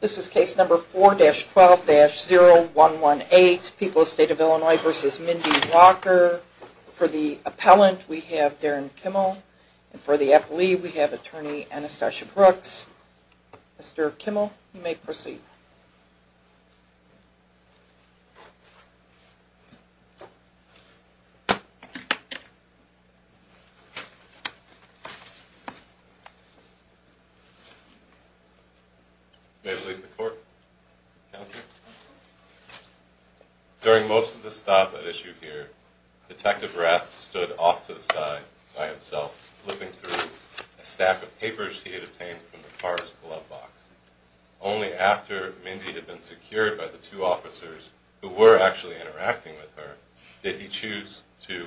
This is case number 4-12-0118, People's State of Illinois v. Mindy Walker. For the appellant, we have Darren Kimmel. For the appellee, we have attorney Anastasia Brooks. Mr. Kimmel, you may proceed. You may release the court. During most of the stop at issue here, Detective Rath stood off to the side by himself, flipping through a stack of papers he had obtained from the car's glove box. Only after Mindy had been secured by the two officers who were actually interacting with her, did he choose to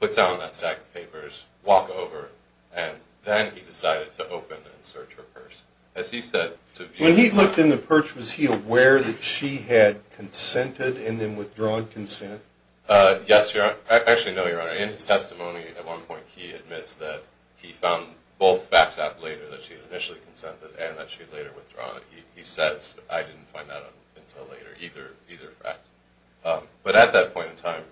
put down that stack of papers, walk over, and then he decided to open and search her purse. As he said, to view... When he looked in the purse, was he aware that she had consented and then withdrawn consent? Yes, Your Honor. Actually, no, Your Honor. In his testimony, at one point, he admits that he found both facts out later, that she had initially consented and that she had later withdrawn it. He says, I didn't find that out until later, either fact. But at that point in time,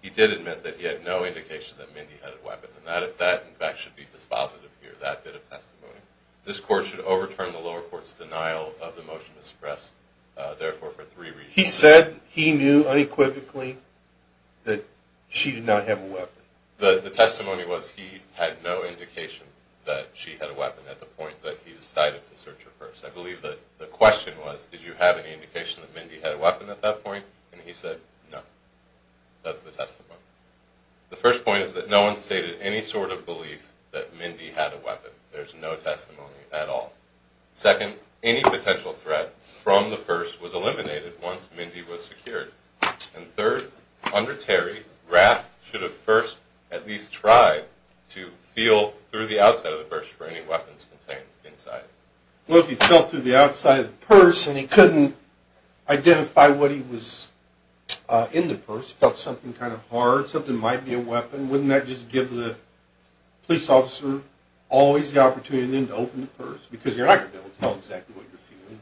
he did admit that he had no indication that Mindy had a weapon, and that, in fact, should be dispositive here, that bit of testimony. This court should overturn the lower court's denial of the motion to suppress, therefore, for three reasons. He said he knew unequivocally that she did not have a weapon. The testimony was he had no indication that she had a weapon at the point that he decided to search her purse. I believe that the question was, did you have any indication that Mindy had a weapon at that point? And he said, no. That's the testimony. The first point is that no one stated any sort of belief that Mindy had a weapon. There's no testimony at all. Second, any potential threat from the purse was eliminated once Mindy was secured. And third, under Terry, Raff should have first at least tried to feel through the outside of the purse for any weapons contained inside. Well, if he felt through the outside of the purse and he couldn't identify what he was in the purse, felt something kind of hard, something might be a weapon, wouldn't that just give the police officer always the opportunity then to open the purse? Because you're not going to be able to tell exactly what you're feeling.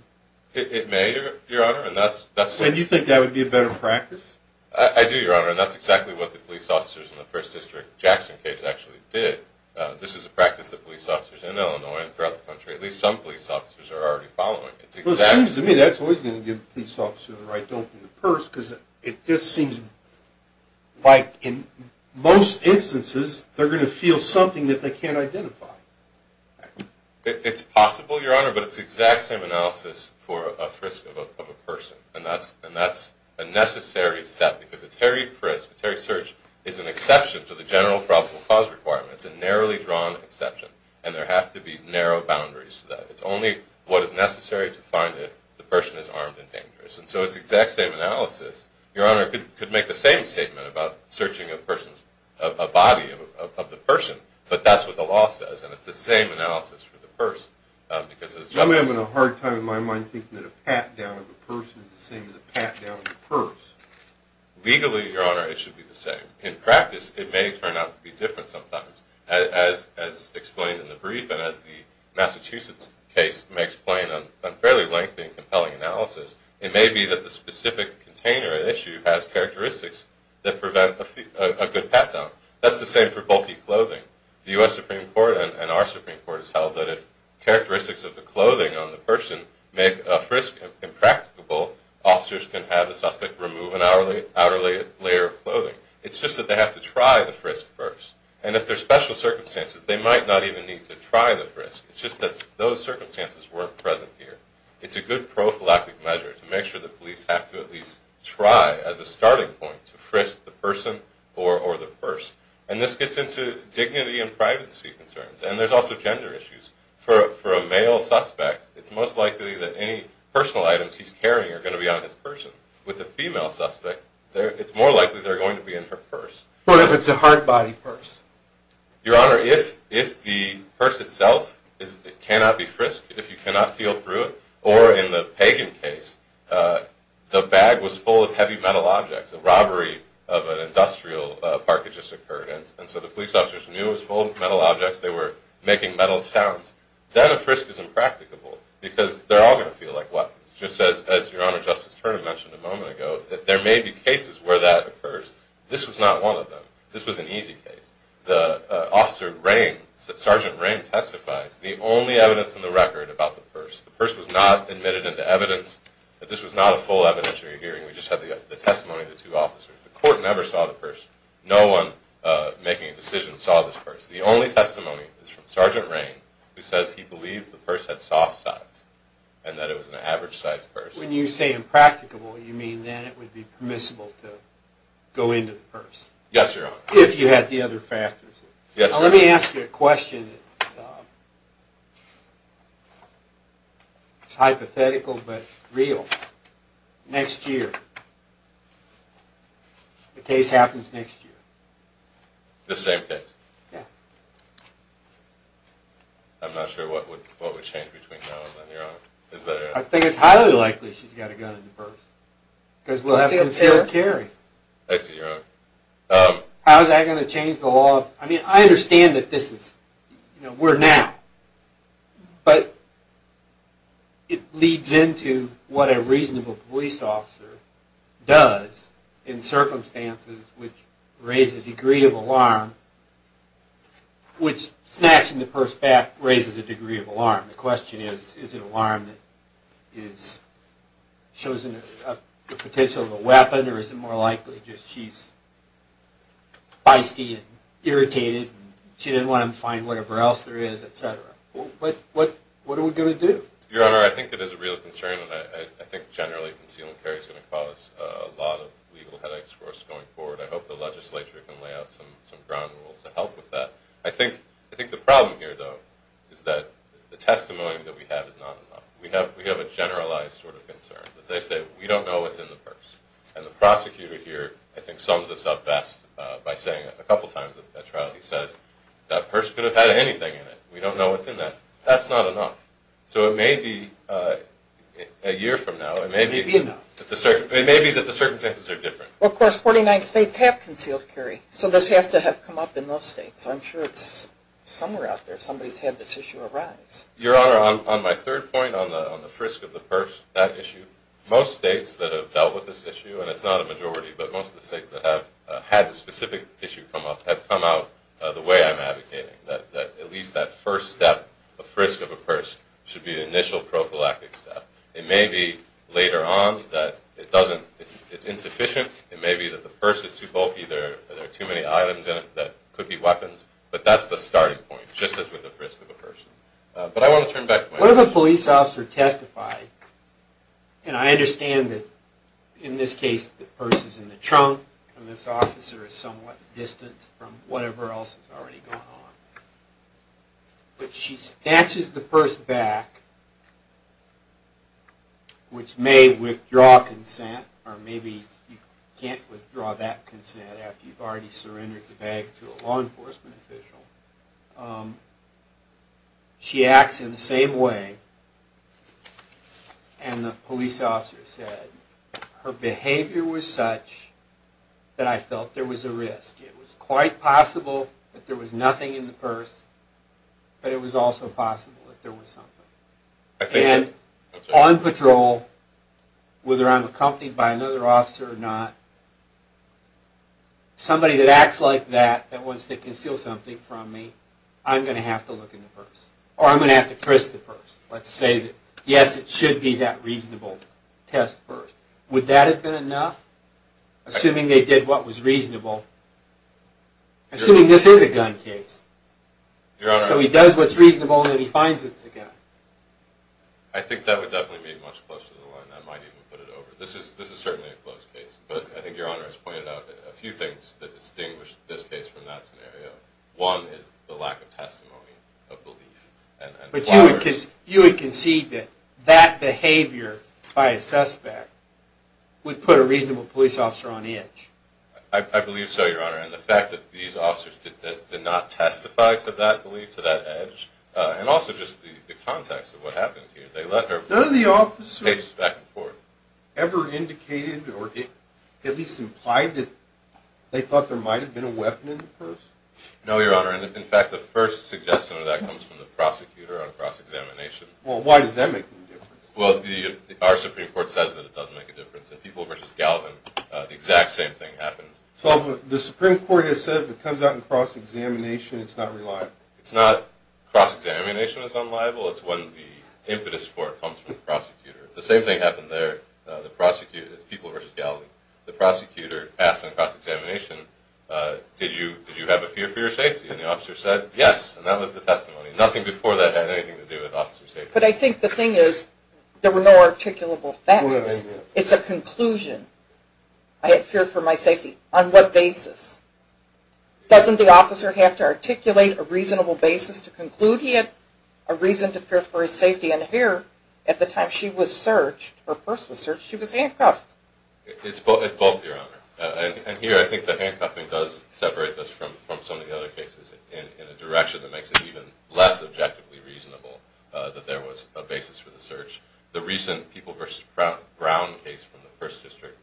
It may, Your Honor, and that's... And you think that would be a better practice? I do, Your Honor, and that's exactly what the police officers in the First District Jackson case actually did. This is a practice that police officers in Illinois and throughout the country, at least some police officers, are already following. Well, it seems to me that's always going to give the police officer the right to open the purse because it just seems like in most instances they're going to feel something that they can't identify. It's possible, Your Honor, but it's the exact same analysis for a frisk of a person. And that's a necessary step because a Terry frisk, a Terry search, is an exception to the general probable cause requirement. It's a narrowly drawn exception and there have to be narrow boundaries to that. It's only what is necessary to find if the person is armed and dangerous. And so it's the exact same analysis. Your Honor, I could make the same statement about searching a body of the person, but that's what the law says and it's the same analysis for the purse. I'm having a hard time in my mind thinking that a pat down of a person is the same as a pat down of a purse. Legally, Your Honor, it should be the same. In practice, it may turn out to be different sometimes. As explained in the brief and as the Massachusetts case may explain in a fairly lengthy and compelling analysis, it may be that the specific container at issue has characteristics that prevent a good pat down. That's the same for bulky clothing. The U.S. Supreme Court and our Supreme Court has held that if characteristics of the clothing on the person make a frisk impracticable, officers can have the suspect remove an outer layer of clothing. It's just that they have to try the frisk first. And if there's special circumstances, they might not even need to try the frisk. It's just that those circumstances weren't present here. It's a good prophylactic measure to make sure that police have to at least try as a starting point to frisk the person or the purse. And this gets into dignity and privacy concerns. And there's also gender issues. For a male suspect, it's most likely that any personal items he's carrying are going to be on his purse. With a female suspect, it's more likely they're going to be in her purse. What if it's a hard body purse? Your Honor, if the purse itself cannot be frisked, if you cannot feel through it, or in the Pagan case, the bag was full of heavy metal objects, a robbery of an industrial park had just occurred, and so the police officers knew it was full of metal objects, they were making metal sounds, then a frisk is impracticable because they're all going to feel like weapons. Just as Your Honor, Justice Turner mentioned a moment ago, that there may be cases where that occurs. This was not one of them. This was an easy case. The officer, Sergeant Rain, testifies, the only evidence in the record about the purse, the purse was not admitted into evidence, that this was not a full evidentiary hearing. We just had the testimony of the two officers. The court never saw the purse. No one making a decision saw this purse. The only testimony is from Sergeant Rain, who says he believed the purse had soft sides, and that it was an average-sized purse. When you say impracticable, you mean then it would be permissible to go into the purse. Yes, Your Honor. If you had the other factors. Yes, Your Honor. Now let me ask you a question. It's hypothetical, but real. Next year. The case happens next year. The same case? Yeah. I'm not sure what would change between now and then, Your Honor. I think it's highly likely she's got a gun in the purse. Because we'll have to consider carry. I see, Your Honor. How is that going to change the law? I mean, I understand that this is, you know, we're now. But it leads into what a reasonable police officer does in circumstances which raise a degree of alarm, which snatching the purse back raises a degree of alarm. The question is, is it an alarm that shows the potential of a weapon, or is it more likely just she's feisty and irritated, and she didn't want him to find whatever else there is, et cetera? What are we going to do? Your Honor, I think it is a real concern, and I think generally concealing carry is going to cause a lot of legal headaches for us going forward. I hope the legislature can lay out some ground rules to help with that. I think the problem here, though, is that the testimony that we have is not enough. We have a generalized sort of concern. They say, we don't know what's in the purse. And the prosecutor here, I think, sums this up best by saying it a couple times at trial. He says, that purse could have had anything in it. We don't know what's in that. That's not enough. So it may be a year from now. It may be that the circumstances are different. Well, of course, 49 states have concealed carry. So this has to have come up in those states. I'm sure it's somewhere out there. Somebody's had this issue arise. Your Honor, on my third point, on the frisk of the purse, that issue, most states that have dealt with this issue, and it's not a majority, but most of the states that have had the specific issue come up have come out the way I'm advocating, that at least that first step, the frisk of a purse, should be the initial prophylactic step. It may be later on that it's insufficient. It may be that the purse is too bulky. There are too many items in it that could be weapons. But that's the starting point, just as with the frisk of a purse. But I want to turn back to my question. What if a police officer testified, and I understand that in this case the purse is in the trunk and this officer is somewhat distanced from whatever else is already going on, but she snatches the purse back, which may withdraw consent, or maybe you can't withdraw that consent after you've already surrendered the bag to a law enforcement official. She acts in the same way, and the police officer said, her behavior was such that I felt there was a risk. It was quite possible that there was nothing in the purse, but it was also possible that there was something. And on patrol, whether I'm accompanied by another officer or not, somebody that acts like that, that wants to conceal something from me, I'm going to have to look in the purse, or I'm going to have to frisk the purse. Let's say, yes, it should be that reasonable test first. Would that have been enough, assuming they did what was reasonable? Assuming this is a gun case. So he does what's reasonable, and then he finds it's a gun. I think that would definitely be much closer to the line. I might even put it over. This is certainly a close case, but I think Your Honor has pointed out a few things that distinguish this case from that scenario. One is the lack of testimony of belief. But you would concede that that behavior by a suspect would put a reasonable police officer on edge. I believe so, Your Honor. And the fact that these officers did not testify to that belief, to that edge, and also just the context of what happened here. None of the officers ever indicated or at least implied that they thought there might have been a weapon in the purse? No, Your Honor. In fact, the first suggestion of that comes from the prosecutor on cross-examination. Well, why does that make a difference? Well, our Supreme Court says that it does make a difference. In People v. Galvin, the exact same thing happened. So the Supreme Court has said if it comes out in cross-examination, it's not reliable. It's not cross-examination that's unliable. It's when the impetus for it comes from the prosecutor. The same thing happened there. The prosecutor at People v. Galvin, the prosecutor asked on cross-examination, did you have a fear for your safety? And the officer said yes, and that was the testimony. Nothing before that had anything to do with officer safety. But I think the thing is there were no articulable facts. It's a conclusion. I had fear for my safety. On what basis? Doesn't the officer have to articulate a reasonable basis to conclude he had a reason to fear for his safety? And here, at the time she was searched, her purse was searched, she was handcuffed. It's both, Your Honor. And here I think the handcuffing does separate this from some of the other cases in a direction that makes it even less objectively reasonable that there was a basis for the search. The recent People v. Brown case from the 1st District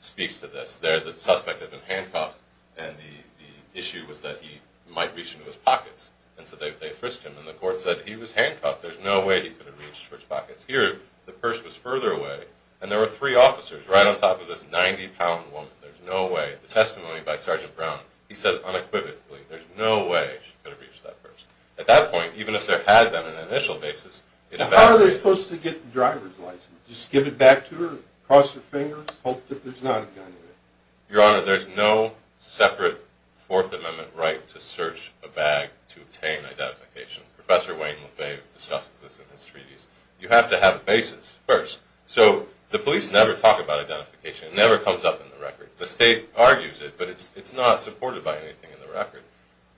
speaks to this. There, the suspect had been handcuffed, and the issue was that he might reach into his pockets. And so they frisked him, and the court said he was handcuffed. There's no way he could have reached for his pockets. Here, the purse was further away, and there were three officers right on top of this 90-pound woman. There's no way. The testimony by Sergeant Brown, he says unequivocally, there's no way she could have reached that purse. At that point, even if there had been an initial basis in effect. How are they supposed to get the driver's license? Just give it back to her, cross her fingers, hope that there's not a gun in there? Your Honor, there's no separate Fourth Amendment right to search a bag to obtain identification. Professor Wayne Lefebvre discusses this in his treaties. You have to have a basis first. So the police never talk about identification. It never comes up in the record. The state argues it, but it's not supported by anything in the record.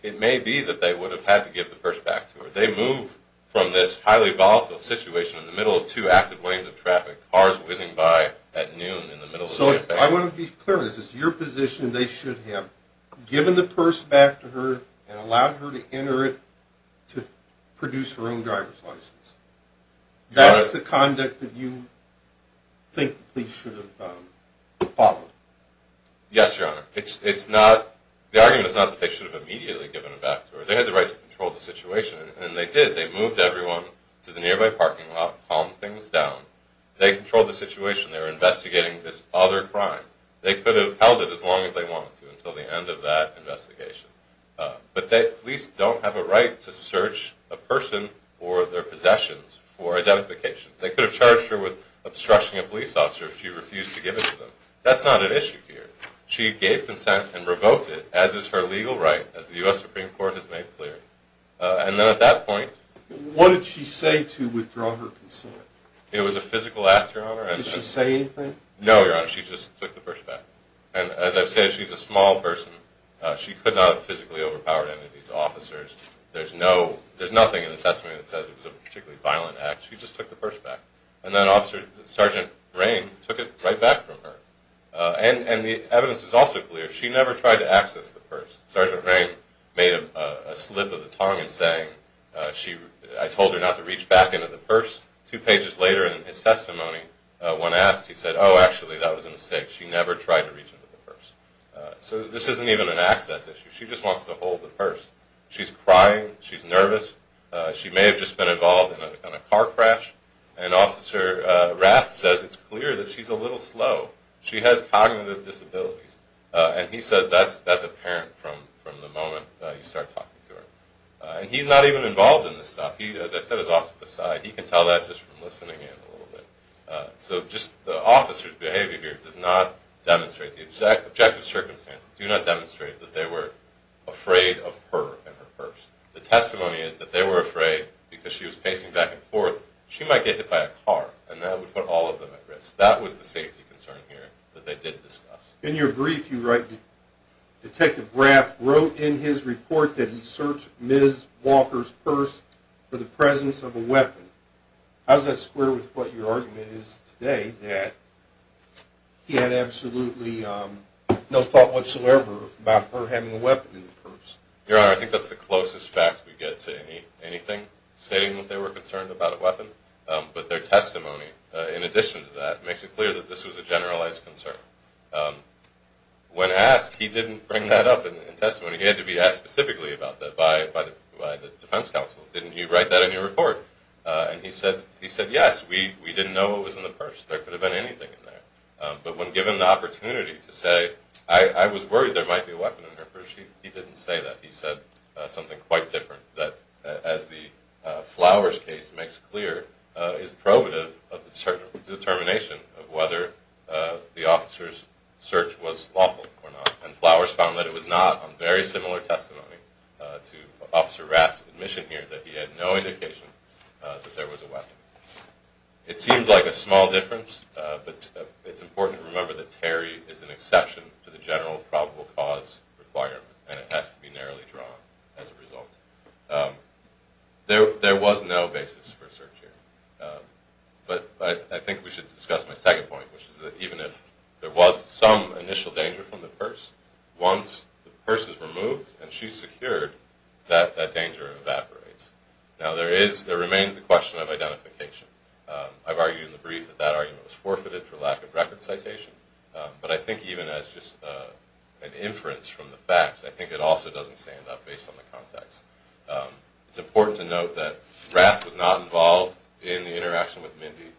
It may be that they would have had to give the purse back to her. They move from this highly volatile situation in the middle of two active lanes of traffic, cars whizzing by at noon in the middle of the campaign. So I want to be clear. This is your position they should have given the purse back to her and allowed her to enter it to produce her own driver's license. That is the conduct that you think the police should have followed. Yes, Your Honor. The argument is not that they should have immediately given it back to her. They had the right to control the situation, and they did. They moved everyone to the nearby parking lot, calmed things down. They controlled the situation. They were investigating this other crime. They could have held it as long as they wanted to until the end of that investigation. But the police don't have a right to search a person or their possessions for identification. They could have charged her with obstruction of police officer if she refused to give it to them. That's not an issue here. She gave consent and revoked it, as is her legal right, as the U.S. Supreme Court has made clear. And then at that point? What did she say to withdraw her consent? It was a physical act, Your Honor. Did she say anything? No, Your Honor. She just took the purse back. And as I've said, she's a small person. She could not have physically overpowered any of these officers. There's nothing in the testament that says it was a particularly violent act. She just took the purse back. And then Sergeant Rain took it right back from her. And the evidence is also clear. She never tried to access the purse. Sergeant Rain made a slip of the tongue in saying, I told her not to reach back into the purse. Two pages later in his testimony, when asked, he said, Oh, actually, that was a mistake. She never tried to reach into the purse. So this isn't even an access issue. She just wants to hold the purse. She's crying. She's nervous. She may have just been involved in a car crash. And Officer Rath says it's clear that she's a little slow. She has cognitive disabilities. And he says that's apparent from the moment you start talking to her. And he's not even involved in this stuff. He, as I said, is off to the side. He can tell that just from listening in a little bit. So just the officer's behavior here does not demonstrate the objective circumstance, do not demonstrate that they were afraid of her and her purse. The testimony is that they were afraid because she was pacing back and forth. She might get hit by a car, and that would put all of them at risk. That was the safety concern here that they did discuss. In your brief, you write, Detective Rath wrote in his report that he searched Ms. Walker's purse for the presence of a weapon. How does that square with what your argument is today, that he had absolutely no thought whatsoever about her having a weapon in the purse? Your Honor, I think that's the closest fact we get to anything stating that they were concerned about a weapon. But their testimony, in addition to that, makes it clear that this was a generalized concern. When asked, he didn't bring that up in testimony. He had to be asked specifically about that by the defense counsel. Didn't you write that in your report? And he said, yes, we didn't know what was in the purse. There could have been anything in there. But when given the opportunity to say, I was worried there might be a weapon in her purse, he didn't say that. He said something quite different that, as the Flowers case makes clear, is probative of the determination of whether the officer's search was lawful or not. And Flowers found that it was not on very similar testimony to Officer Rath's admission here that he had no indication that there was a weapon. It seems like a small difference, but it's important to remember that Terry is an exception to the general probable cause requirement, and it has to be narrowly drawn as a result. There was no basis for search here. But I think we should discuss my second point, which is that even if there was some initial danger from the purse, once the purse is removed and she's secured, that danger evaporates. Now, there remains the question of identification. I've argued in the brief that that argument was forfeited for lack of record citation. But I think even as just an inference from the facts, I think it also doesn't stand up based on the context. It's important to note that Rath was not involved in the interaction with Mindy.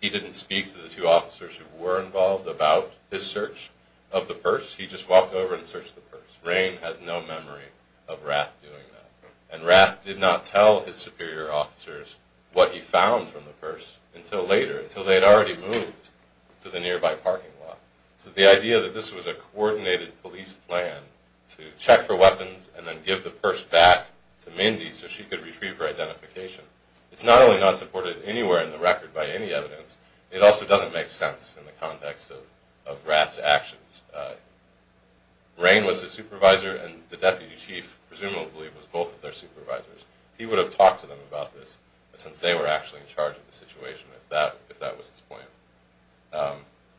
He didn't speak to the two officers who were involved about his search of the purse. He just walked over and searched the purse. Rain has no memory of Rath doing that. And Rath did not tell his superior officers what he found from the purse until later, until they had already moved to the nearby parking lot. So the idea that this was a coordinated police plan to check for weapons and then give the purse back to Mindy so she could retrieve her identification, it's not only not supported anywhere in the record by any evidence, it also doesn't make sense in the context of Rath's actions. Rain was his supervisor, and the deputy chief presumably was both of their supervisors. He would have talked to them about this, since they were actually in charge of the situation, if that was his point.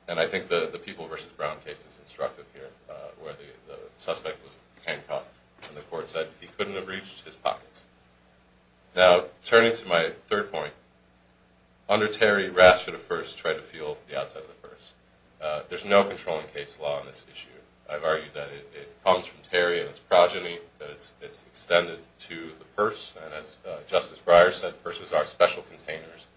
And I think the People v. Brown case is instructive here, where the suspect was handcuffed and the court said he couldn't have reached his pockets. Now, turning to my third point, under Terry, Rath should have first tried to feel the outside of the purse. There's no controlling case law on this issue. I've argued that it comes from Terry and its progeny, that it's extended to the purse. And as Justice Breyer said, purses are special containers.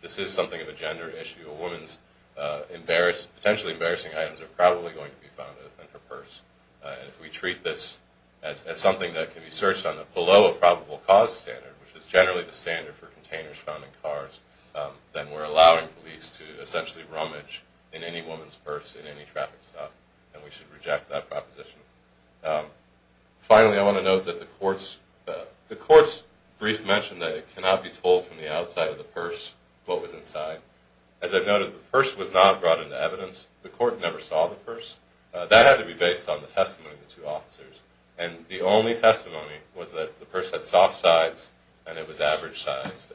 This is something of a gender issue. A woman's potentially embarrassing items are probably going to be found in her purse. And if we treat this as something that can be searched below a probable cause standard, which is generally the standard for containers found in cars, then we're allowing police to essentially rummage in any woman's purse in any traffic stop, and we should reject that proposition. Finally, I want to note that the court's brief mentioned that it cannot be told from the outside of the purse what was inside. As I've noted, the purse was not brought into evidence. The court never saw the purse. That had to be based on the testimony of the two officers. And the only testimony was that the purse had soft sides and it was average sized,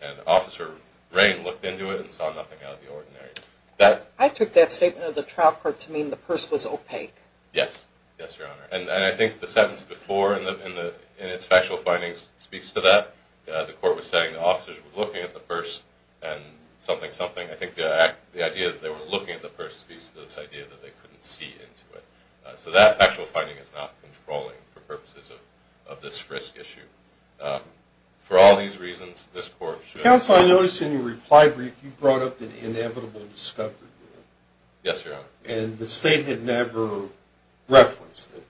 and Officer Rain looked into it and saw nothing out of the ordinary. I took that statement of the trial court to mean the purse was opaque. Yes. Yes, Your Honor. And I think the sentence before in its factual findings speaks to that. The court was saying the officers were looking at the purse and something, something. I think the idea that they were looking at the purse speaks to this idea that they couldn't see into it. So that factual finding is not controlling for purposes of this risk issue. For all these reasons, this court should… Counsel, I noticed in your reply brief you brought up the inevitable discovery rule. Yes, Your Honor. And the state had never referenced it,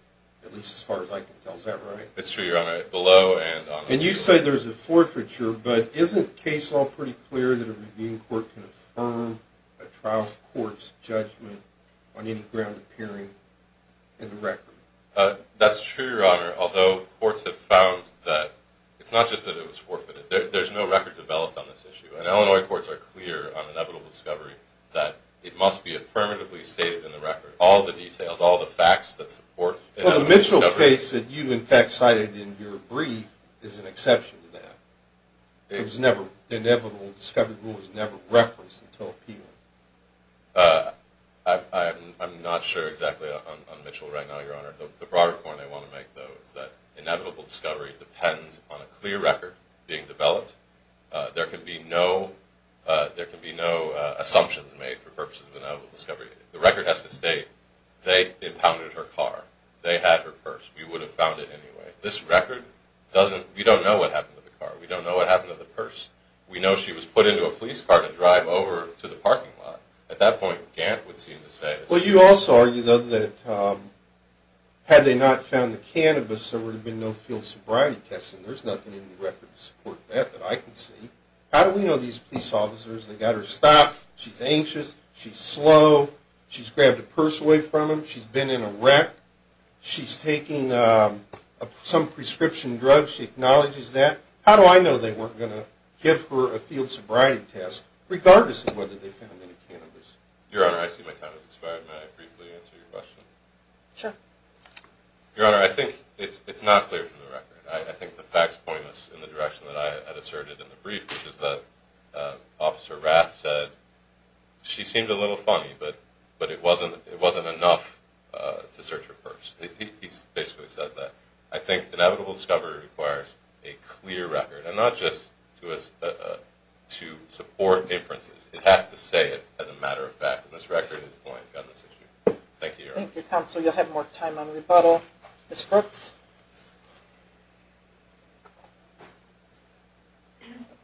at least as far as I can tell. Is that right? It's true, Your Honor. Below and on… And you say there's a forfeiture, but isn't case law pretty clear that a Medellin court can affirm a trial court's judgment on any ground appearing in the record? That's true, Your Honor, although courts have found that it's not just that it was forfeited. There's no record developed on this issue. And Illinois courts are clear on inevitable discovery that it must be affirmatively stated in the record. All the details, all the facts that support… Well, the Mitchell case that you, in fact, cited in your brief is an exception to that. It was never, the inevitable discovery rule was never referenced until appeal. I'm not sure exactly on Mitchell right now, Your Honor. The broader point I want to make, though, is that inevitable discovery depends on a clear record being developed. There can be no assumptions made for purposes of inevitable discovery. The record has to state, they impounded her car. They had her purse. We would have found it anyway. This record doesn't, we don't know what happened to the car. We don't know what happened to the purse. We know she was put into a police car to drive over to the parking lot. At that point, Gant would seem to say… Well, you also argue, though, that had they not found the cannabis, there would have been no field sobriety testing. There's nothing in the record to support that that I can see. How do we know these police officers, they got her stopped, she's anxious, she's slow, she's grabbed a purse away from him, she's been in a wreck, she's taking some prescription drug, she acknowledges that. How do I know they weren't going to give her a field sobriety test, regardless of whether they found any cannabis? Your Honor, I see my time has expired. May I briefly answer your question? Sure. Your Honor, I think it's not clear from the record. I think the facts point us in the direction that I had asserted in the brief, which is that Officer Rath said she seemed a little funny, but it wasn't enough to search her purse. He basically says that. I think inevitable discovery requires a clear record, and not just to support inferences. It has to say it as a matter of fact, and this record is going to gun this issue. Thank you, Your Honor. Thank you, Counsel. You'll have more time on rebuttal. Ms. Brooks?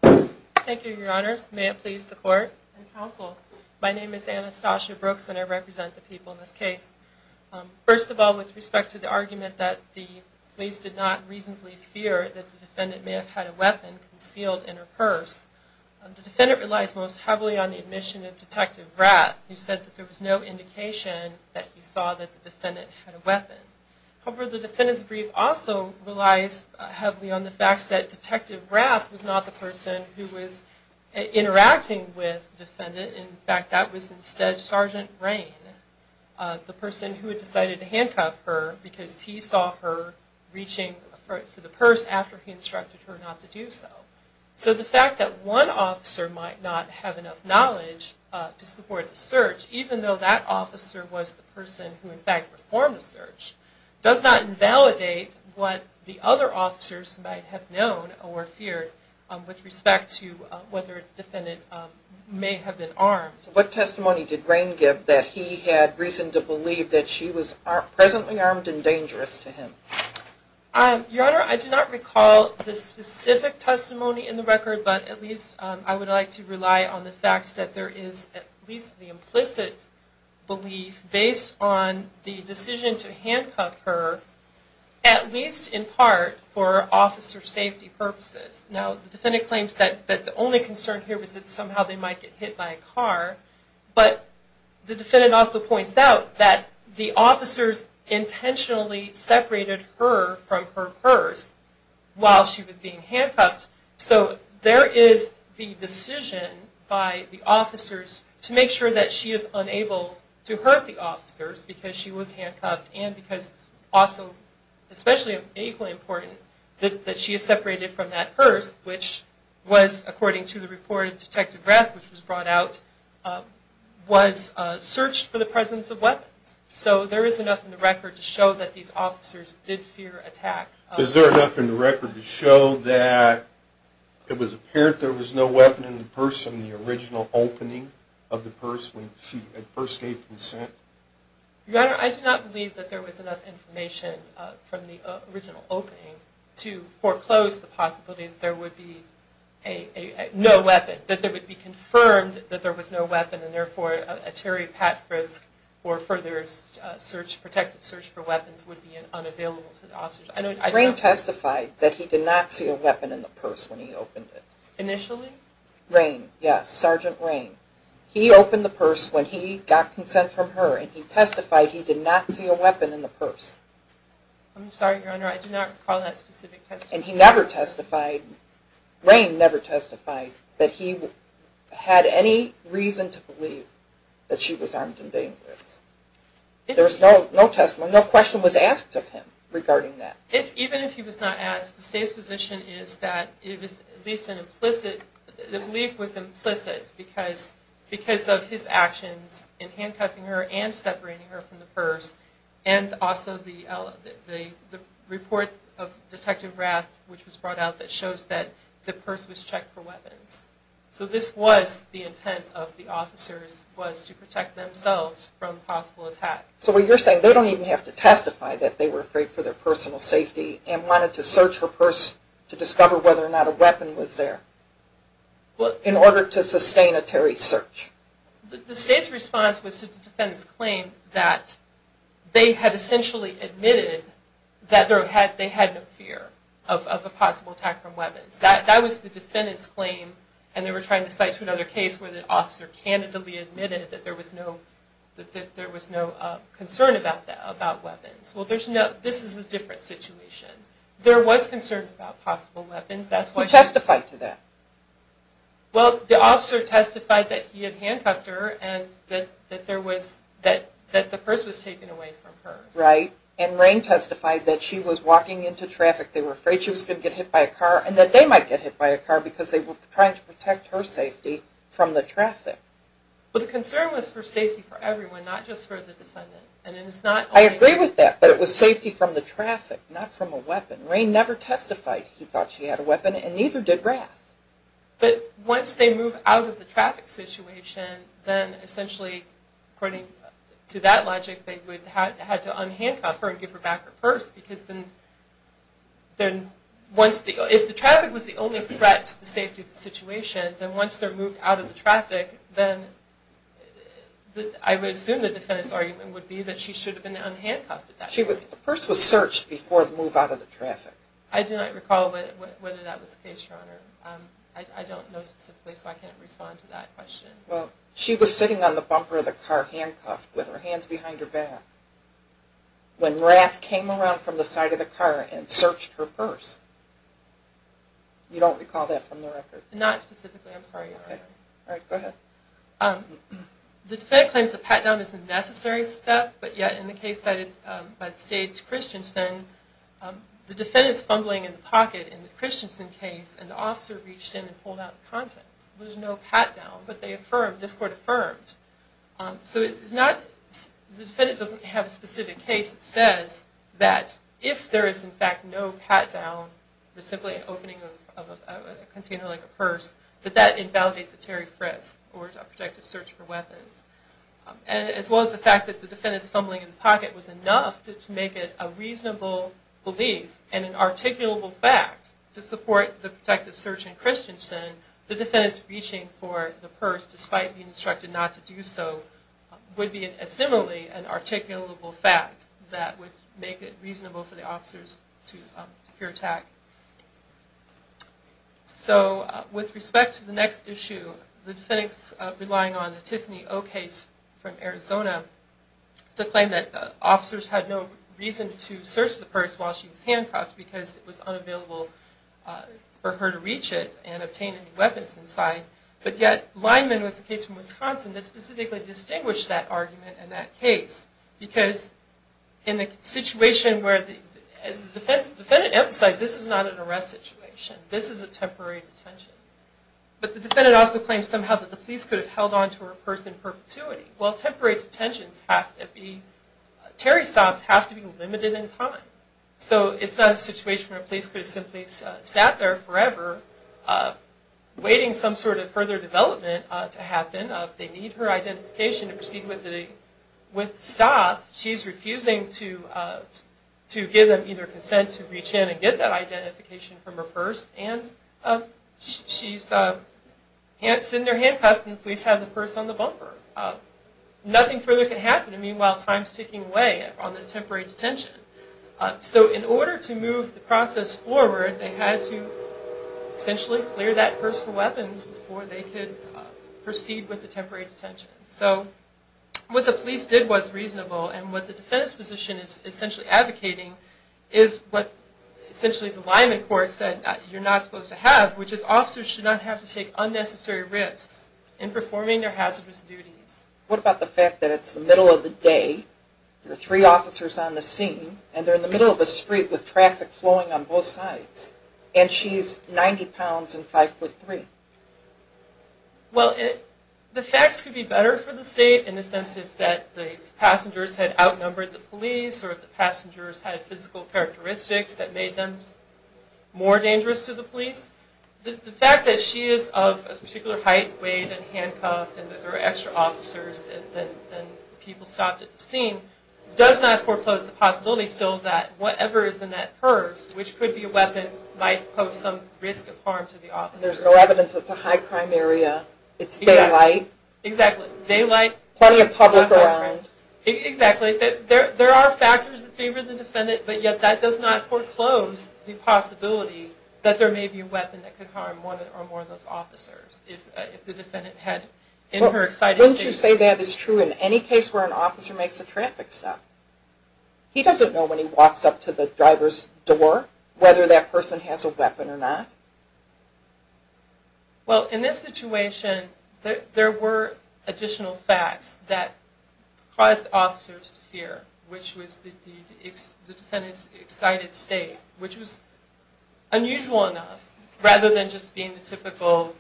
Thank you, Your Honors. May it please the Court and Counsel, my name is Anastasia Brooks and I represent the people in this case. First of all, with respect to the argument that the police did not reasonably fear that the defendant may have had a weapon concealed in her purse, the defendant relies most heavily on the admission of Detective Rath. He said that there was no indication that he saw that the defendant had a weapon. However, the defendant's brief also relies heavily on the fact that Detective Rath was not the person who was interacting with the defendant. In fact, that was instead Sergeant Rain, the person who had decided to handcuff her, because he saw her reaching for the purse after he instructed her not to do so. So the fact that one officer might not have enough knowledge to support the search, even though that officer was the person who in fact performed the search, does not invalidate what the other officers might have known or feared with respect to whether the defendant may have been armed. What testimony did Rain give that he had reason to believe that she was presently armed and dangerous to him? Your Honor, I do not recall the specific testimony in the record, but at least I would like to rely on the fact that there is at least the implicit belief, based on the decision to handcuff her, at least in part, for officer safety purposes. Now, the defendant claims that the only concern here was that somehow they might get hit by a car, but the defendant also points out that the officers intentionally separated her from her purse while she was being handcuffed. So there is the decision by the officers to make sure that she is unable to hurt the officers because she was handcuffed, and because also, especially equally important, that she is separated from that purse, which was, according to the report of Detective Rath, which was brought out, was searched for the presence of weapons. So there is enough in the record to show that these officers did fear attack. Is there enough in the record to show that it was apparent there was no weapon in the purse in the original opening of the purse when she at first gave consent? Your Honor, I do not believe that there was enough information from the original opening to foreclose the possibility that there would be no weapon, that there would be confirmed that there was no weapon, and therefore a terri-pat-frisk or further protected search for weapons would be unavailable to the officers. Rayne testified that he did not see a weapon in the purse when he opened it. Initially? Rayne, yes, Sergeant Rayne. He opened the purse when he got consent from her, and he testified he did not see a weapon in the purse. I'm sorry, Your Honor, I do not recall that specific testimony. And he never testified, Rayne never testified that he had any reason to believe that she was armed and dangerous. There was no testimony, no question was asked of him regarding that. Even if he was not asked, the State's position is that it was at least an implicit, the belief was implicit because of his actions in handcuffing her and separating her from the purse, and also the report of Detective Rath which was brought out that shows that the purse was checked for weapons. So this was the intent of the officers, was to protect themselves from possible attack. So what you're saying, they don't even have to testify that they were afraid for their personal safety and wanted to search her purse to discover whether or not a weapon was there. In order to sustain a terrorist search. The State's response was to the defendant's claim that they had essentially admitted that they had no fear of a possible attack from weapons. That was the defendant's claim, and they were trying to cite to another case where the officer candidly admitted that there was no concern about weapons. Well, this is a different situation. There was concern about possible weapons. Who testified to that? Well, the officer testified that he had handcuffed her and that the purse was taken away from her. Right, and Rain testified that she was walking into traffic, they were afraid she was going to get hit by a car, and that they might get hit by a car because they were trying to protect her safety from the traffic. But the concern was for safety for everyone, not just for the defendant. I agree with that, but it was safety from the traffic, not from a weapon. Rain never testified he thought she had a weapon, and neither did Rath. But once they move out of the traffic situation, then essentially, according to that logic, they would have to unhandcuff her and give her back her purse. Because if the traffic was the only threat to the safety of the situation, then once they're moved out of the traffic, then I would assume the defendant's argument would be that she should have been unhandcuffed at that point. The purse was searched before the move out of the traffic. I do not recall whether that was the case, Your Honor. I don't know specifically, so I can't respond to that question. Well, she was sitting on the bumper of the car handcuffed with her hands behind her back when Rath came around from the side of the car and searched her purse. You don't recall that from the record? Not specifically, I'm sorry, Your Honor. All right, go ahead. The defendant claims the pat-down is a necessary step, but yet in the case cited by the state, Christensen, the defendant is fumbling in the pocket in the Christensen case, and the officer reached in and pulled out the contents. There was no pat-down, but they affirmed, this court affirmed. So it's not, the defendant doesn't have a specific case that says that if there is, in fact, no pat-down, there's simply an opening of a container like a purse, that that invalidates a Terry Frisk or a protective search for weapons. As well as the fact that the defendant's fumbling in the pocket was enough to make it a reasonable belief and an articulable fact to support the protective search in Christensen, the defendant's reaching for the purse, despite being instructed not to do so, would be similarly an articulable fact that would make it reasonable for the officers to peer attack. So, with respect to the next issue, the defendant's relying on the Tiffany O. case from Arizona to claim that officers had no reason to search the purse while she was handcuffed because it was unavailable for her to reach it and obtain any weapons inside. But yet, Lineman was the case from Wisconsin that specifically distinguished that argument in that case. Because in the situation where, as the defendant emphasized, this is not an arrest situation. This is a temporary detention. But the defendant also claims somehow that the police could have held on to her purse in perpetuity. Well, temporary detentions have to be, Terry stops have to be limited in time. So it's not a situation where a police could have simply sat there forever, waiting some sort of further development to happen. They need her identification to proceed with the stop. She's refusing to give them either consent to reach in and get that identification from her purse, and she's sitting there handcuffed and the police have the purse on the bumper. Nothing further can happen. Meanwhile, time's ticking away on this temporary detention. So in order to move the process forward, they had to essentially clear that purse for weapons before they could proceed with the temporary detention. So what the police did was reasonable, and what the defense position is essentially advocating is what essentially the Lineman court said you're not supposed to have, which is officers should not have to take unnecessary risks in performing their hazardous duties. What about the fact that it's the middle of the day, there are three officers on the scene, and they're in the middle of a street with traffic flowing on both sides, and she's 90 pounds and 5'3"? Well, the facts could be better for the state in the sense that the passengers had outnumbered the police or the passengers had physical characteristics that made them more dangerous to the police. The fact that she is of a particular height, weight, and handcuffed, and there are extra officers than people stopped at the scene, does not foreclose the possibility still that whatever is in that purse, which could be a weapon, might pose some risk of harm to the officer. There's no evidence it's a high crime area. It's daylight. Exactly. Daylight. Plenty of public around. Exactly. There are factors in favor of the defendant, but yet that does not foreclose the possibility that there may be a weapon that could harm one or more of those officers if the defendant had in her excited state. Wouldn't you say that is true in any case where an officer makes a traffic stop? He doesn't know when he walks up to the driver's door whether that person has a weapon or not? Well, in this situation, there were additional facts that caused officers to fear, which was the defendant's excited state, which was unusual enough, rather than just being the typical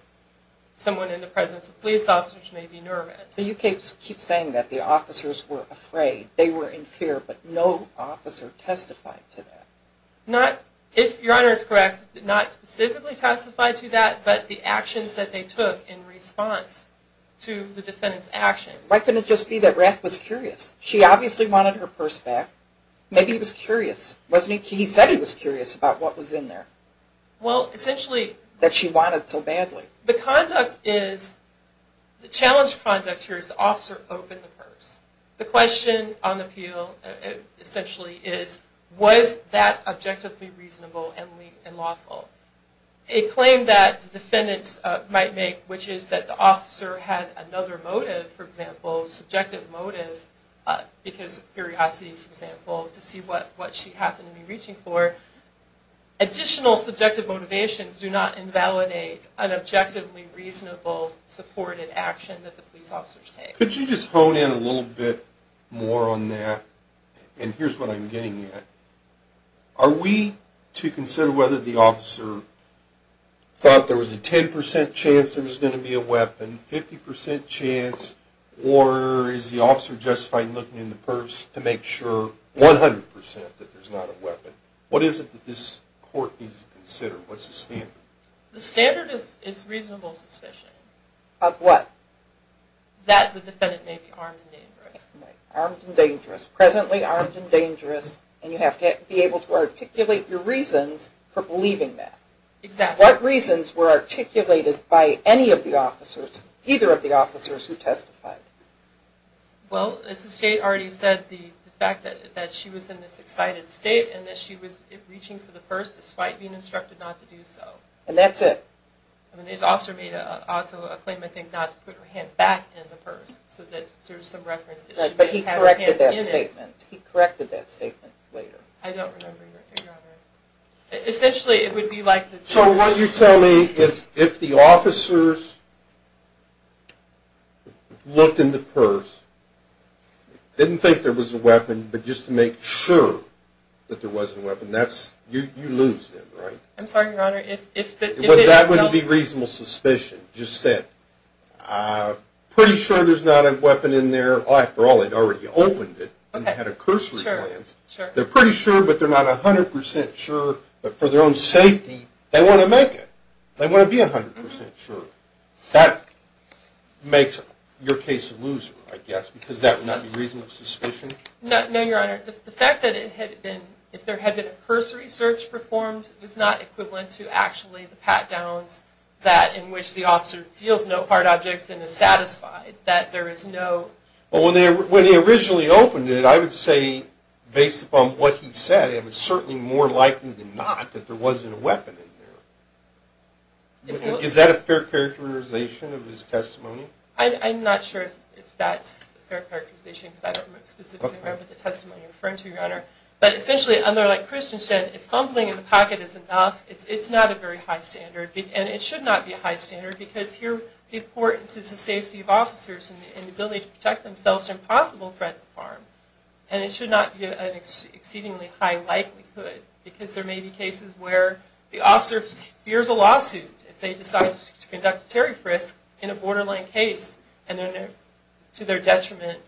someone in the presence of police officers may be nervous. So you keep saying that the officers were afraid. They were in fear, but no officer testified to that. If Your Honor is correct, not specifically testified to that, but the actions that they took in response to the defendant's actions. Why couldn't it just be that Rath was curious? She obviously wanted her purse back. Maybe he was curious, wasn't he? He said he was curious about what was in there that she wanted so badly. The challenge of conduct here is the officer opened the purse. The question on appeal, essentially, is was that objectively reasonable and lawful? A claim that the defendants might make, which is that the officer had another motive, for example, subjective motive, because of curiosity, for example, to see what she happened to be reaching for. Additional subjective motivations do not invalidate an objectively reasonable, supported action that the police officers take. Could you just hone in a little bit more on that? And here's what I'm getting at. Are we to consider whether the officer thought there was a 10% chance there was going to be a weapon, 50% chance, or is the officer justified looking in the purse to make sure 100% that there's not a weapon? What is it that this court needs to consider? What's the standard? The standard is reasonable suspicion. Of what? That the defendant may be armed and dangerous. Armed and dangerous. Presently armed and dangerous, and you have to be able to articulate your reasons for believing that. Exactly. What reasons were articulated by any of the officers, either of the officers who testified? Well, as the State already said, the fact that she was in this excited state, and that she was reaching for the purse despite being instructed not to do so. And that's it? I mean, his officer made also a claim, I think, not to put her hand back in the purse, so that there's some reference that she may have her hand in it. Right, but he corrected that statement. He corrected that statement later. I don't remember, Your Honor. Essentially, it would be like that. So what you're telling me is if the officers looked in the purse, didn't think there was a weapon, but just to make sure that there wasn't a weapon, you lose them, right? I'm sorry, Your Honor. That wouldn't be reasonable suspicion, just that. Pretty sure there's not a weapon in there. After all, they'd already opened it and had a cursory glance. They're pretty sure, but they're not 100% sure. But for their own safety, they want to make it. They want to be 100% sure. That makes your case a loser, I guess, because that would not be reasonable suspicion. No, Your Honor. The fact that it had been, if there had been a cursory search performed, it's not equivalent to actually the pat-downs, that in which the officer feels no hard objects and is satisfied that there is no... Well, when they originally opened it, I would say, based upon what he said, it was certainly more likely than not that there wasn't a weapon in there. Is that a fair characterization of his testimony? I'm not sure if that's a fair characterization because I don't specifically remember the testimony you're referring to, Your Honor. But essentially, under like Christian said, if fumbling in the pocket is enough, it's not a very high standard. And it should not be a high standard because here the importance is the safety of officers and the ability to protect themselves from possible threats of harm. And it should not be an exceedingly high likelihood because there may be cases where the officer fears a lawsuit if they decide to conduct a tariff risk in a borderline case and to their detriment...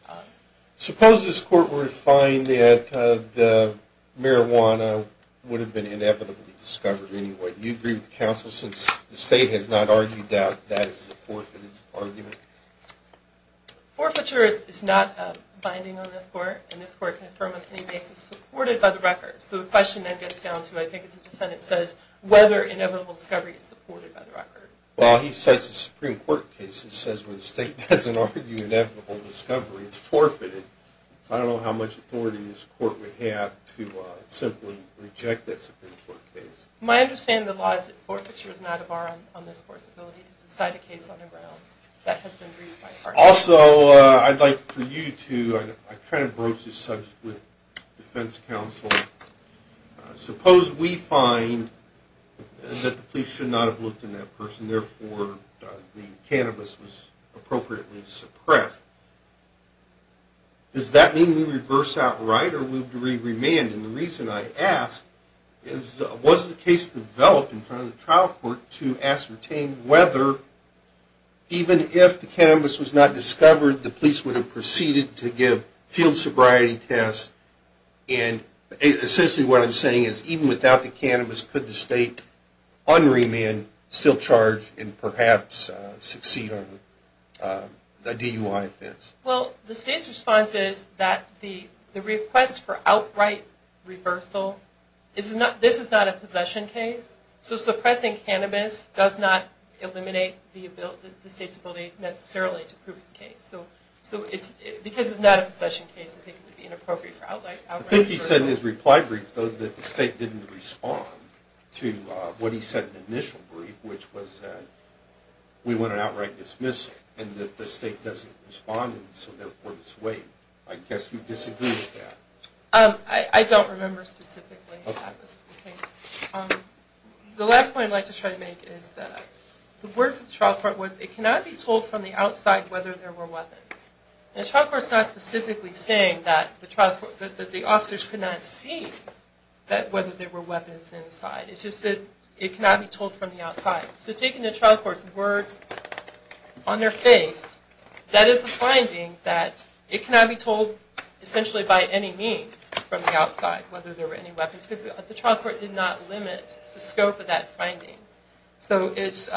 Suppose this Court were to find that the marijuana would have been inevitably discovered anyway. Do you agree with the counsel since the State has not argued that that is a forfeited argument? Forfeiture is not a binding on this Court and this Court can affirm on any basis supported by the record. So the question then gets down to, I think as the defendant says, whether inevitable discovery is supported by the record. Well, he cites a Supreme Court case that says where the State doesn't argue inevitable discovery, it's forfeited. So I don't know how much authority this Court would have to simply reject that Supreme Court case. My understanding of the law is that forfeiture is not a bar on this Court's ability to decide a case on the grounds that has been agreed by a party. Also, I'd like for you to... Suppose we find that the police should not have looked in that person, therefore the cannabis was appropriately suppressed. Does that mean we reverse outright or would we remand? And the reason I ask is, was the case developed in front of the trial court to ascertain whether, even if the cannabis was not discovered, the police would have proceeded to give field sobriety tests and essentially what I'm saying is, even without the cannabis, could the State unremand, still charge, and perhaps succeed on a DUI offense? Well, the State's response is that the request for outright reversal, this is not a possession case, so suppressing cannabis does not eliminate the State's ability necessarily to prove the case. So, because it's not a possession case, I think it would be inappropriate for outright... I think he said in his reply brief, though, that the State didn't respond to what he said in the initial brief, which was that we want an outright dismissal, and that the State doesn't respond, and so therefore it's waived. I guess you disagree with that. I don't remember specifically that. The last point I'd like to try to make is that the words of the trial court was, it cannot be told from the outside whether there were weapons. The trial court's not specifically saying that the officers could not see whether there were weapons inside. It's just that it cannot be told from the outside. So taking the trial court's words on their face, that is a finding that it cannot be told, essentially by any means, from the outside, whether there were any weapons, because the trial court did not limit the scope of that finding. So it's...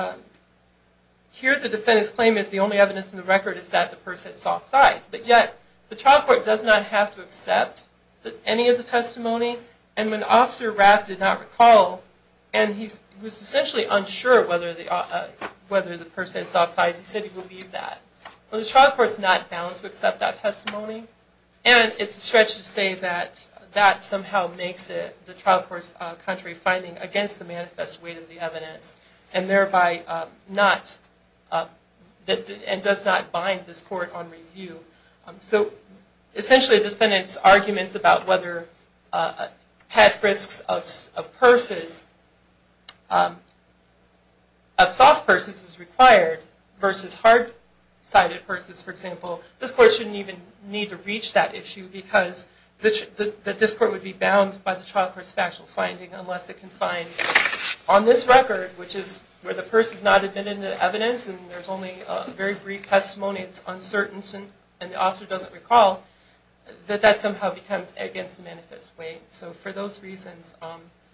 here the defendant's claim is the only evidence in the record is that the purse had soft sides, but yet the trial court does not have to accept any of the testimony, and when Officer Rapp did not recall, and he was essentially unsure whether the purse had soft sides, he said he would leave that. Well, the trial court's not bound to accept that testimony, and it's a stretch to say that that somehow makes it the trial court's contrary finding against the manifest weight of the evidence, and thereby not... and does not bind this court on review. So essentially the defendant's arguments about whether pat frisks of purses... of soft purses is required versus hard-sided purses, for example, this court shouldn't even need to reach that issue, because this court would be bound by the trial court's factual finding, unless it can find on this record, which is where the purse has not been in the evidence, and there's only a very brief testimony, it's uncertain, and the officer doesn't recall, that that somehow becomes against the manifest weight. So for those reasons,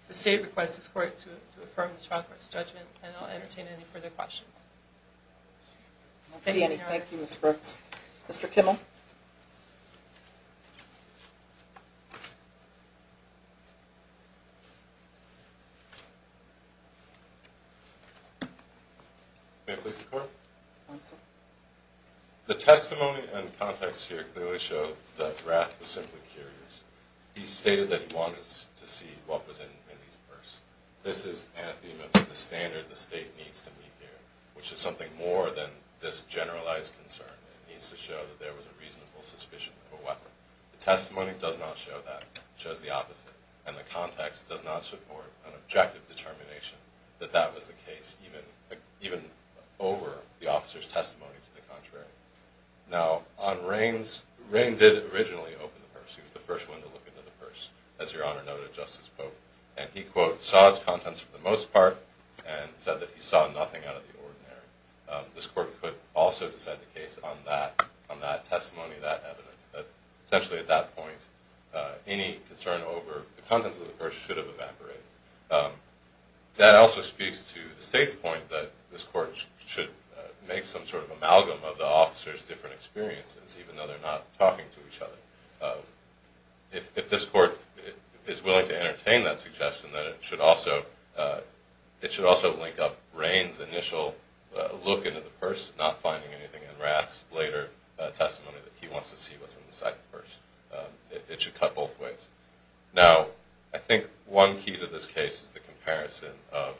the state requests this court to affirm the trial court's judgment, and I'll entertain any further questions. I don't see any. Thank you, Ms. Brooks. Mr. Kimmel. May I please report? Go ahead, sir. The testimony and context here clearly show that Rath was simply curious. He stated that he wanted to see what was in Mindy's purse. This is anathema to the standard the state needs to meet here, which is something more than this generalized concern. It needs to show that there was a reasonable suspicion of a weapon. The testimony does not show that. It shows the opposite, and the context does not support an objective determination that that was the case, even over the officer's testimony to the contrary. Now, on Raines, Raines did originally open the purse. He was the first one to look into the purse, as Your Honor noted in Justice Pope, and he, quote, saw its contents for the most part and said that he saw nothing out of the ordinary. This court could also decide the case on that testimony, that evidence, that essentially at that point any concern over the contents of the purse should have evaporated. That also speaks to the state's point that this court should make some sort of amalgam of the officers' different experiences, even though they're not talking to each other. If this court is willing to entertain that suggestion, then it should also link up Raines' initial look into the purse, not finding anything in Rath's later testimony that he wants to see what's inside the purse. It should cut both ways. Now, I think one key to this case is the comparison of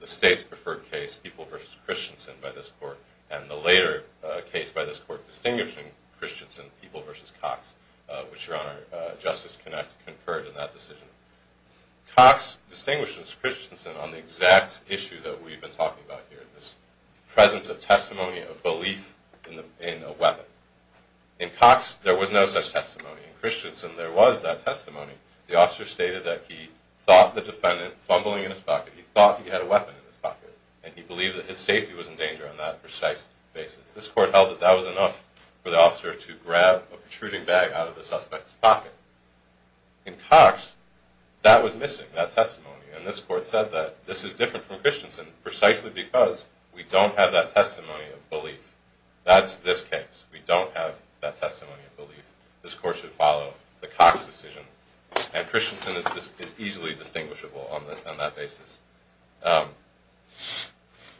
the state's preferred case, People v. Christensen, by this court, and the later case by this court distinguishing Christensen, People v. Cox, which Your Honor, Justice Connacht, concurred in that decision. Cox distinguishes Christensen on the exact issue that we've been talking about here, this presence of testimony of belief in a weapon. In Cox, there was no such testimony. In Christensen, there was that testimony. The officer stated that he thought the defendant, fumbling in his pocket, he thought he had a weapon in his pocket, and he believed that his safety was in danger on that precise basis. This court held that that was enough for the officer to grab a protruding bag out of the suspect's pocket. In Cox, that was missing, that testimony, and this court said that this is different from Christensen, precisely because we don't have that testimony of belief. That's this case. We don't have that testimony of belief. This court should follow the Cox decision, and Christensen is easily distinguishable on that basis.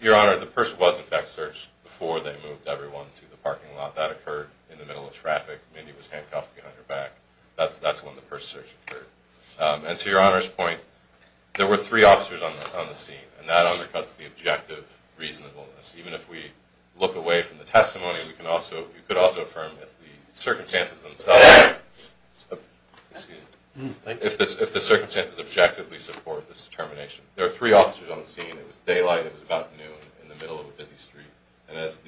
Your Honor, the purse was in fact searched before they moved everyone to the parking lot. That occurred in the middle of traffic. Mindy was handcuffed behind her back. That's when the purse search occurred. And to Your Honor's point, there were three officers on the scene, and that undercuts the objective reasonableness. Even if we look away from the testimony, we could also affirm that the circumstances themselves, if the circumstances objectively support this determination, there were three officers on the scene. It was daylight. It was about noon in the middle of a busy street. And as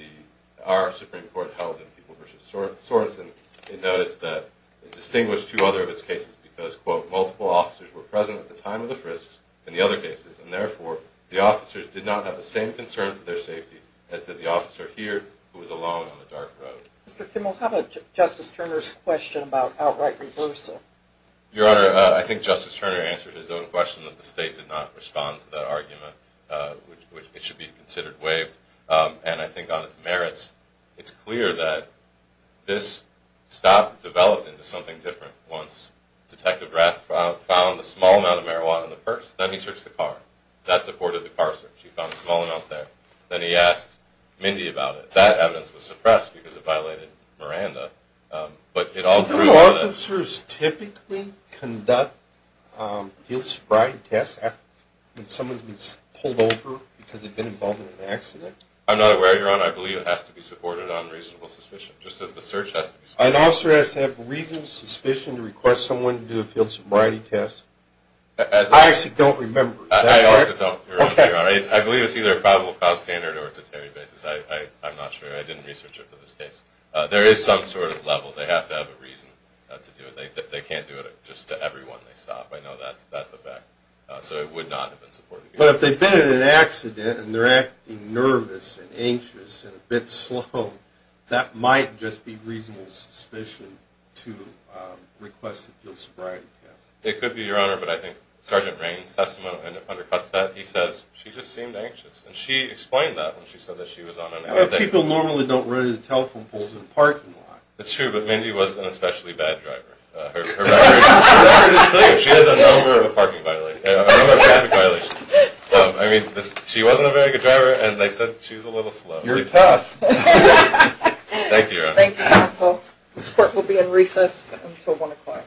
our Supreme Court held in People v. Sorensen, it noticed that it distinguished two other of its cases because, quote, multiple officers were present at the time of the frisks in the other cases, and therefore the officers did not have the same concern for their safety as did the officer here who was alone on a dark road. Mr. Kimmel, how about Justice Turner's question about outright reversal? Your Honor, I think Justice Turner answered his own question that the state did not respond to that argument, which it should be considered waived. And I think on its merits, it's clear that this stopped, developed into something different once Detective Rath found a small amount of marijuana in the purse. Then he searched the car. That supported the car search. He found a small amount there. Then he asked Mindy about it. That evidence was suppressed because it violated Miranda. Do officers typically conduct field sobriety tests when someone's been pulled over because they've been involved in an accident? I'm not aware, Your Honor. I believe it has to be supported on reasonable suspicion, just as the search has to be supported. An officer has to have reasonable suspicion to request someone to do a field sobriety test? I actually don't remember. I also don't, Your Honor. I believe it's either a probable cause standard or it's a Terry basis. I'm not sure. I didn't research it for this case. There is some sort of level. They have to have a reason to do it. They can't do it just to everyone they stop. I know that's a fact. So it would not have been supported. But if they've been in an accident and they're acting nervous and anxious and a bit slow, that might just be reasonable suspicion to request a field sobriety test. It could be, Your Honor. But I think Sergeant Raines' testimony undercuts that. He says she just seemed anxious. And she explained that when she said that she was on an outing. People normally don't run into telephone poles in a parking lot. That's true. But Mindy was an especially bad driver. She has a number of traffic violations. I mean, she wasn't a very good driver, and they said she was a little slow. You're tough. Thank you, Your Honor. This court will be in recess until 1 o'clock.